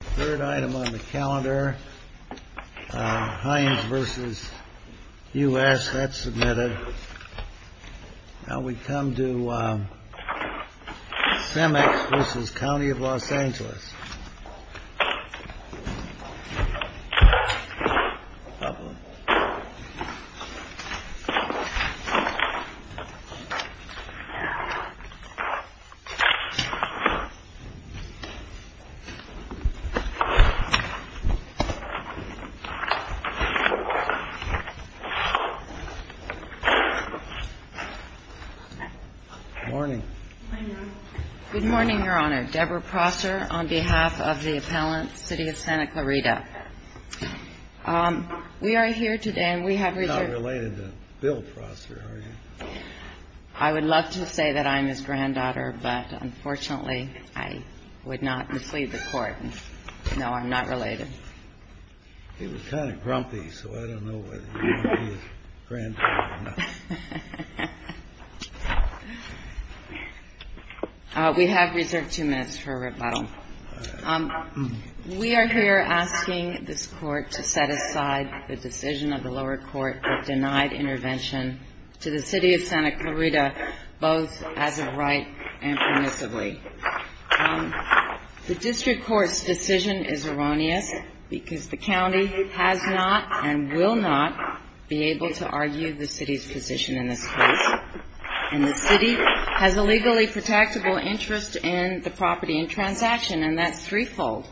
Third item on the calendar, Hines v. U.S., that's submitted. Now we come to CEMEX v. County of Los Angeles. Good morning, Your Honor. Debra Prosser on behalf of the appellant, City of Santa Clarita. We are here today, and we have reserved... You're not related to Bill Prosser, are you? I would love to say that I'm his granddaughter, but unfortunately, I would not mislead the Court. No, I'm not related. He was kind of grumpy, so I don't know whether you want to be his granddaughter or not. We have reserved two minutes for a rebuttal. We are here asking this Court to set aside the decision of the lower court that denied intervention to the City of Santa Clarita, both as of right and permissibly. The district court's decision is erroneous because the county has not and will not be able to argue the City's position in this case, and the City has a legally protectable interest in the property and transaction, and that's threefold.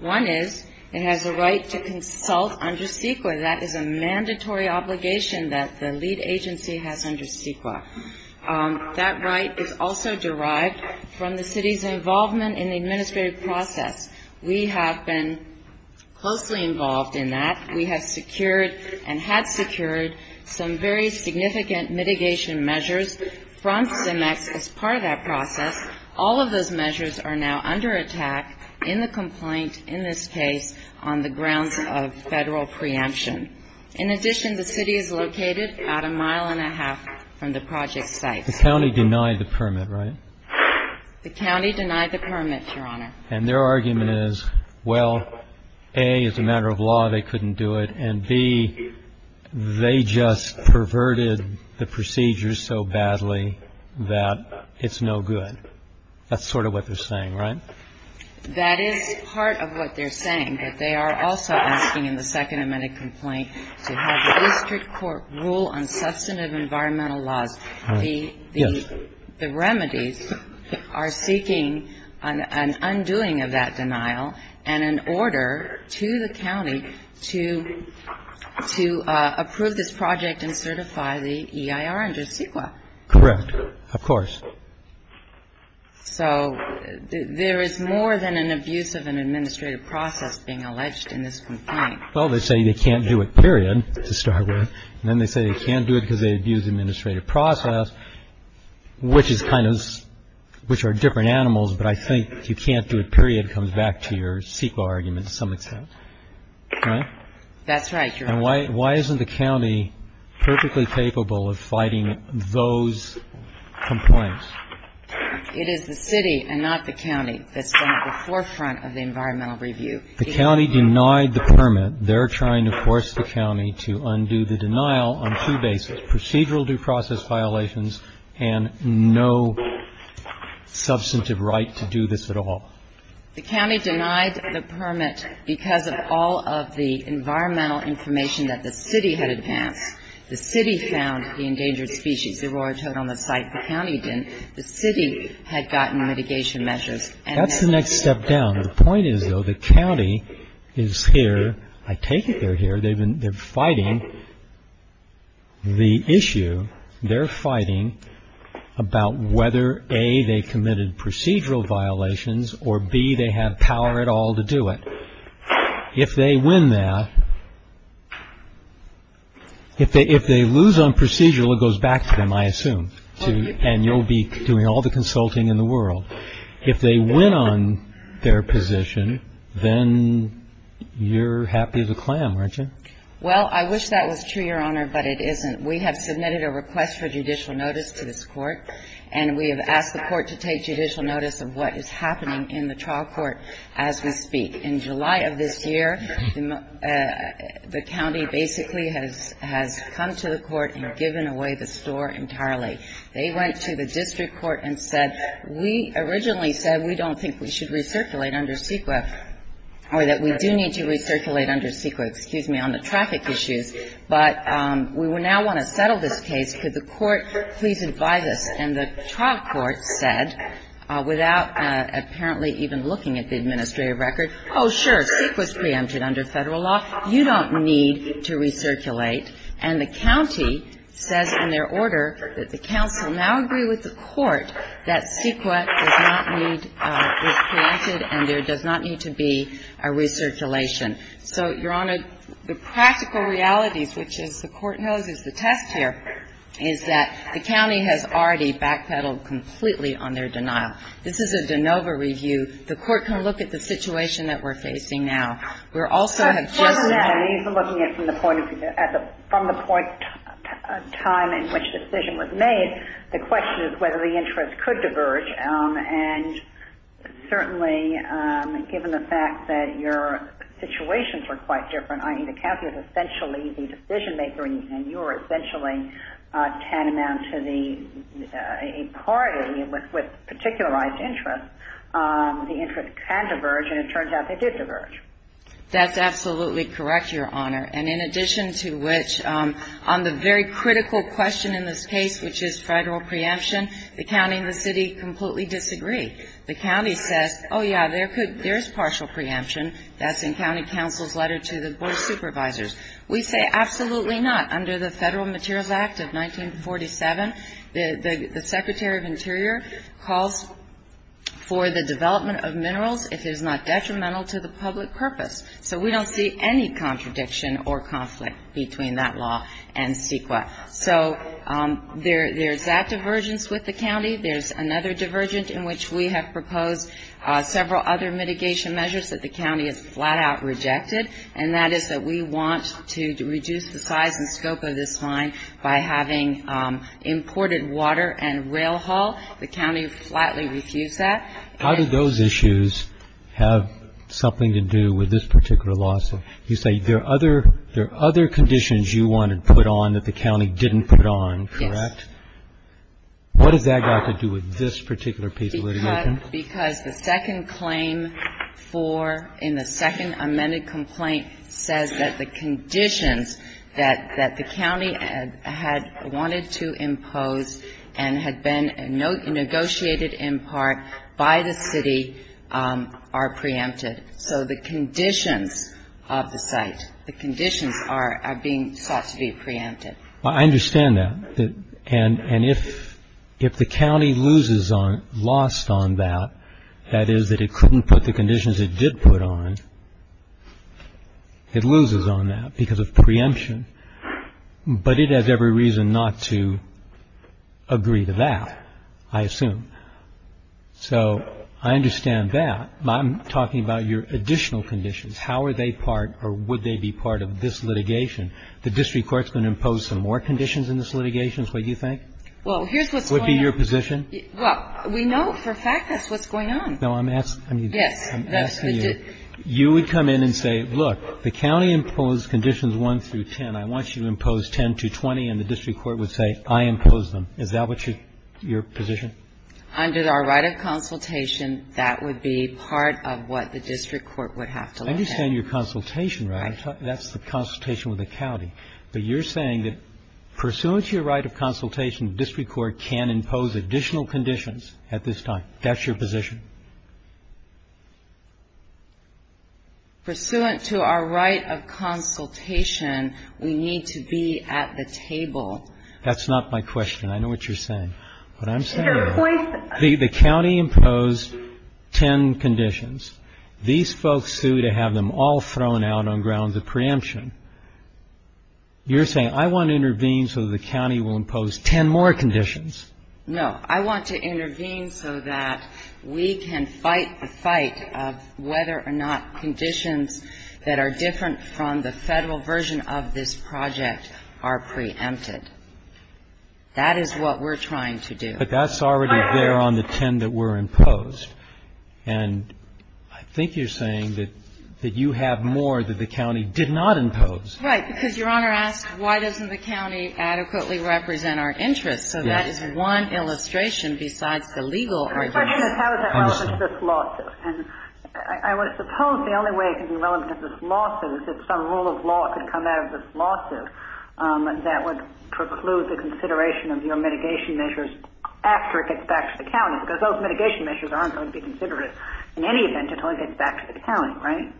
One is it has a right to consult under CEQA. That is a mandatory obligation that the lead agency has under CEQA. That right is also derived from the City's involvement in the administrative process. We have been closely involved in that. We have secured and had secured some very significant mitigation measures from CEMEX as part of that process. All of those measures are now under attack in the complaint, in this case, on the grounds of federal preemption. In addition, the City is located about a mile and a half from the project site. The county denied the permit, right? The county denied the permit, Your Honor. And their argument is, well, A, as a matter of law, they couldn't do it, and, B, they just perverted the procedures so badly that it's no good. That's sort of what they're saying, right? That is part of what they're saying. But they are also asking in the Second Amendment complaint to have the district court rule on substantive environmental laws. The remedies are seeking an undoing of that denial and an order to the county to approve this project and certify the EIR under CEQA. Correct. Of course. So there is more than an abuse of an administrative process being alleged in this complaint. Well, they say they can't do it, period, to start with. And then they say they can't do it because they abused the administrative process, which is kind of – which are different animals, but I think you can't do it, period, comes back to your CEQA argument to some extent. Right? That's right, Your Honor. And why isn't the county perfectly capable of fighting those complaints? It is the city and not the county that's been at the forefront of the environmental review. The county denied the permit. They're trying to force the county to undo the denial on two bases, procedural due process violations and no substantive right to do this at all. The county denied the permit because of all of the environmental information that the city had advanced. The city found the endangered species. The roar toed on the site. The county didn't. The city had gotten mitigation measures. That's the next step down. The point is, though, the county is here – I take it they're here. They're fighting the issue. They're fighting about whether, A, they committed procedural violations or, B, they have power at all to do it. If they win that – if they lose on procedural, it goes back to them, I assume, and you'll be doing all the consulting in the world. If they win on their position, then you're happy as a clam, aren't you? Well, I wish that was true, Your Honor, but it isn't. We have submitted a request for judicial notice to this court, and we have asked the court to take judicial notice of what is happening in the trial court as we speak. In July of this year, the county basically has come to the court and given away the store entirely. They went to the district court and said, we originally said we don't think we should recirculate under CEQA or that we do need to recirculate under CEQA, excuse me, on the traffic issues, but we now want to settle this case. Could the court please advise us? And the trial court said, without apparently even looking at the administrative record, oh, sure, CEQA is preempted under Federal law. You don't need to recirculate. And the county says in their order that the counsel now agree with the court that CEQA does not need to be preempted and there does not need to be a recirculation. So, Your Honor, the practical reality, which the court knows is the test here, is that the county has already backpedaled completely on their denial. This is a de novo review. The court can look at the situation that we're facing now. From the point of time in which the decision was made, the question is whether the interest could diverge, and certainly given the fact that your situations were quite different, i.e., the county was essentially the decision maker and you were essentially tantamount to a party with particularized interests, the interest can diverge, and it turns out they did diverge. That's absolutely correct, Your Honor. And in addition to which, on the very critical question in this case, which is Federal preemption, the county and the city completely disagree. The county says, oh, yeah, there is partial preemption. That's in county counsel's letter to the board of supervisors. We say absolutely not. Under the Federal Materials Act of 1947, the Secretary of Interior calls for the development of minerals if it is not detrimental to the public purpose. So we don't see any contradiction or conflict between that law and CEQA. So there's that divergence with the county. There's another divergence in which we have proposed several other mitigation measures that the county has flat-out rejected, and that is that we want to reduce the size and scope of this line by having imported water and rail haul. The county flatly refused that. And so we're not going to do that. How do those issues have something to do with this particular lawsuit? You say there are other conditions you want to put on that the county didn't put on, correct? Yes. What does that have to do with this particular case of litigation? Because the second claim for, in the second amended complaint, says that the conditions that the county had wanted to impose and had been negotiated in part by the city are preempted. So the conditions of the site, the conditions are being sought to be preempted. I understand that. And if the county loses on, lost on that, that is that it couldn't put the conditions it did put on, it loses on that because of preemption. But it has every reason not to agree to that, I assume. So I understand that. I'm talking about your additional conditions. How are they part or would they be part of this litigation? The district court is going to impose some more conditions in this litigation, is what you think? Well, here's what's going on. Would it be your position? Well, we know for a fact that's what's going on. No, I'm asking you. Yes. I'm asking you. You would come in and say, look, the county imposed conditions 1 through 10. I want you to impose 10 to 20. And the district court would say, I impose them. Is that what your position? Under our right of consultation, that would be part of what the district court would have to look at. I understand your consultation. Right. That's the consultation with the county. But you're saying that pursuant to your right of consultation, the district court can impose additional conditions at this time. That's your position? Pursuant to our right of consultation, we need to be at the table. That's not my question. I know what you're saying. What I'm saying is the county imposed 10 conditions. These folks sue to have them all thrown out on grounds of preemption. You're saying, I want to intervene so the county will impose 10 more conditions. No. I want to intervene so that we can fight the fight of whether or not conditions that are different from the federal version of this project are preempted. That is what we're trying to do. But that's already there on the 10 that were imposed. And I think you're saying that you have more that the county did not impose. Right. Because Your Honor asked why doesn't the county adequately represent our interests. So that is one illustration besides the legal argument. The question is how is that relevant to this lawsuit. And I would suppose the only way it could be relevant to this lawsuit is if some rule of law could come out of this lawsuit that would preclude the consideration of your mitigation measures after it gets back to the county. Because those mitigation measures aren't going to be considerate in any event until it gets back to the county. Right?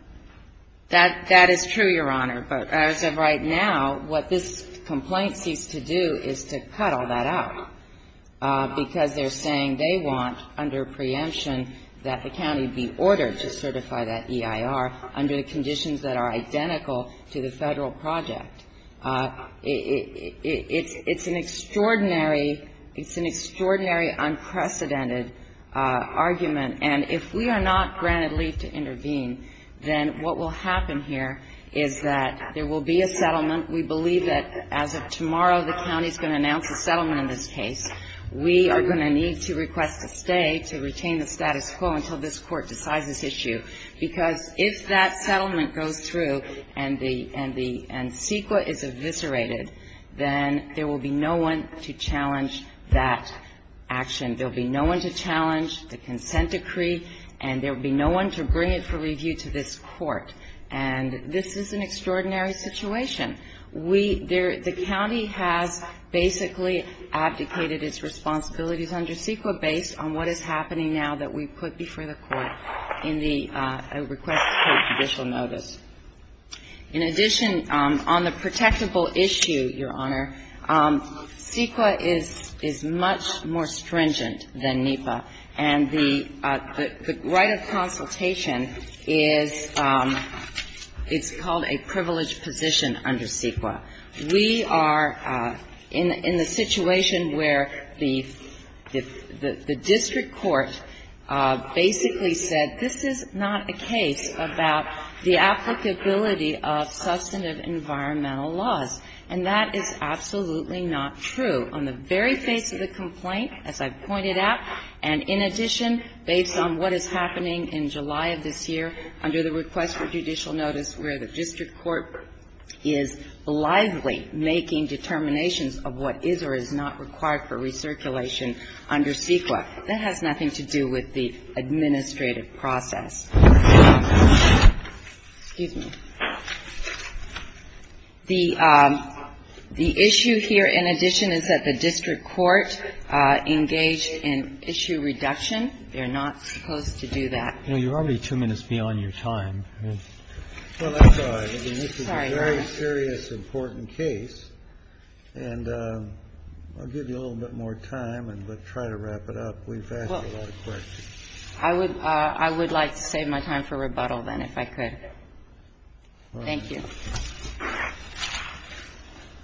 That is true, Your Honor. But as of right now, what this complaint seeks to do is to cut all that out because they're saying they want under preemption that the county be ordered to certify that EIR under the conditions that are identical to the federal project. It's an extraordinary, it's an extraordinary unprecedented argument. And if we are not granted leave to intervene, then what will happen here is that there will be a settlement. We believe that as of tomorrow, the county is going to announce a settlement in this case. We are going to need to request a stay to retain the status quo until this Court decides this issue. Because if that settlement goes through and the, and the, and CEQA is eviscerated, then there will be no one to challenge that action. There will be no one to challenge the consent decree, and there will be no one to bring it for review to this Court. And this is an extraordinary situation. We, the county has basically abdicated its responsibilities under CEQA based on what is happening now that we put before the Court in the request to take judicial notice. In addition, on the protectable issue, Your Honor, CEQA is, is much more stringent than NEPA. And the, the right of consultation is, it's called a privileged position under CEQA. We are in, in the situation where the, the district court basically said this is not a case about the applicability of substantive environmental laws, and that is absolutely not true. On the very face of the complaint, as I've pointed out, and in addition, based on what is happening in July of this year under the request for judicial notice where the district court is lively making determinations of what is or is not required for recirculation under CEQA. That has nothing to do with the administrative process. Excuse me. The, the issue here in addition is that the district court engaged in issue reduction. They're not supposed to do that. You know, you're already two minutes beyond your time. Well, that's all right. I mean, this is a very serious, important case. And I'll give you a little bit more time and we'll try to wrap it up. We've asked a lot of questions. I would, I would like to save my time for rebuttal then, if I could. Thank you. All right.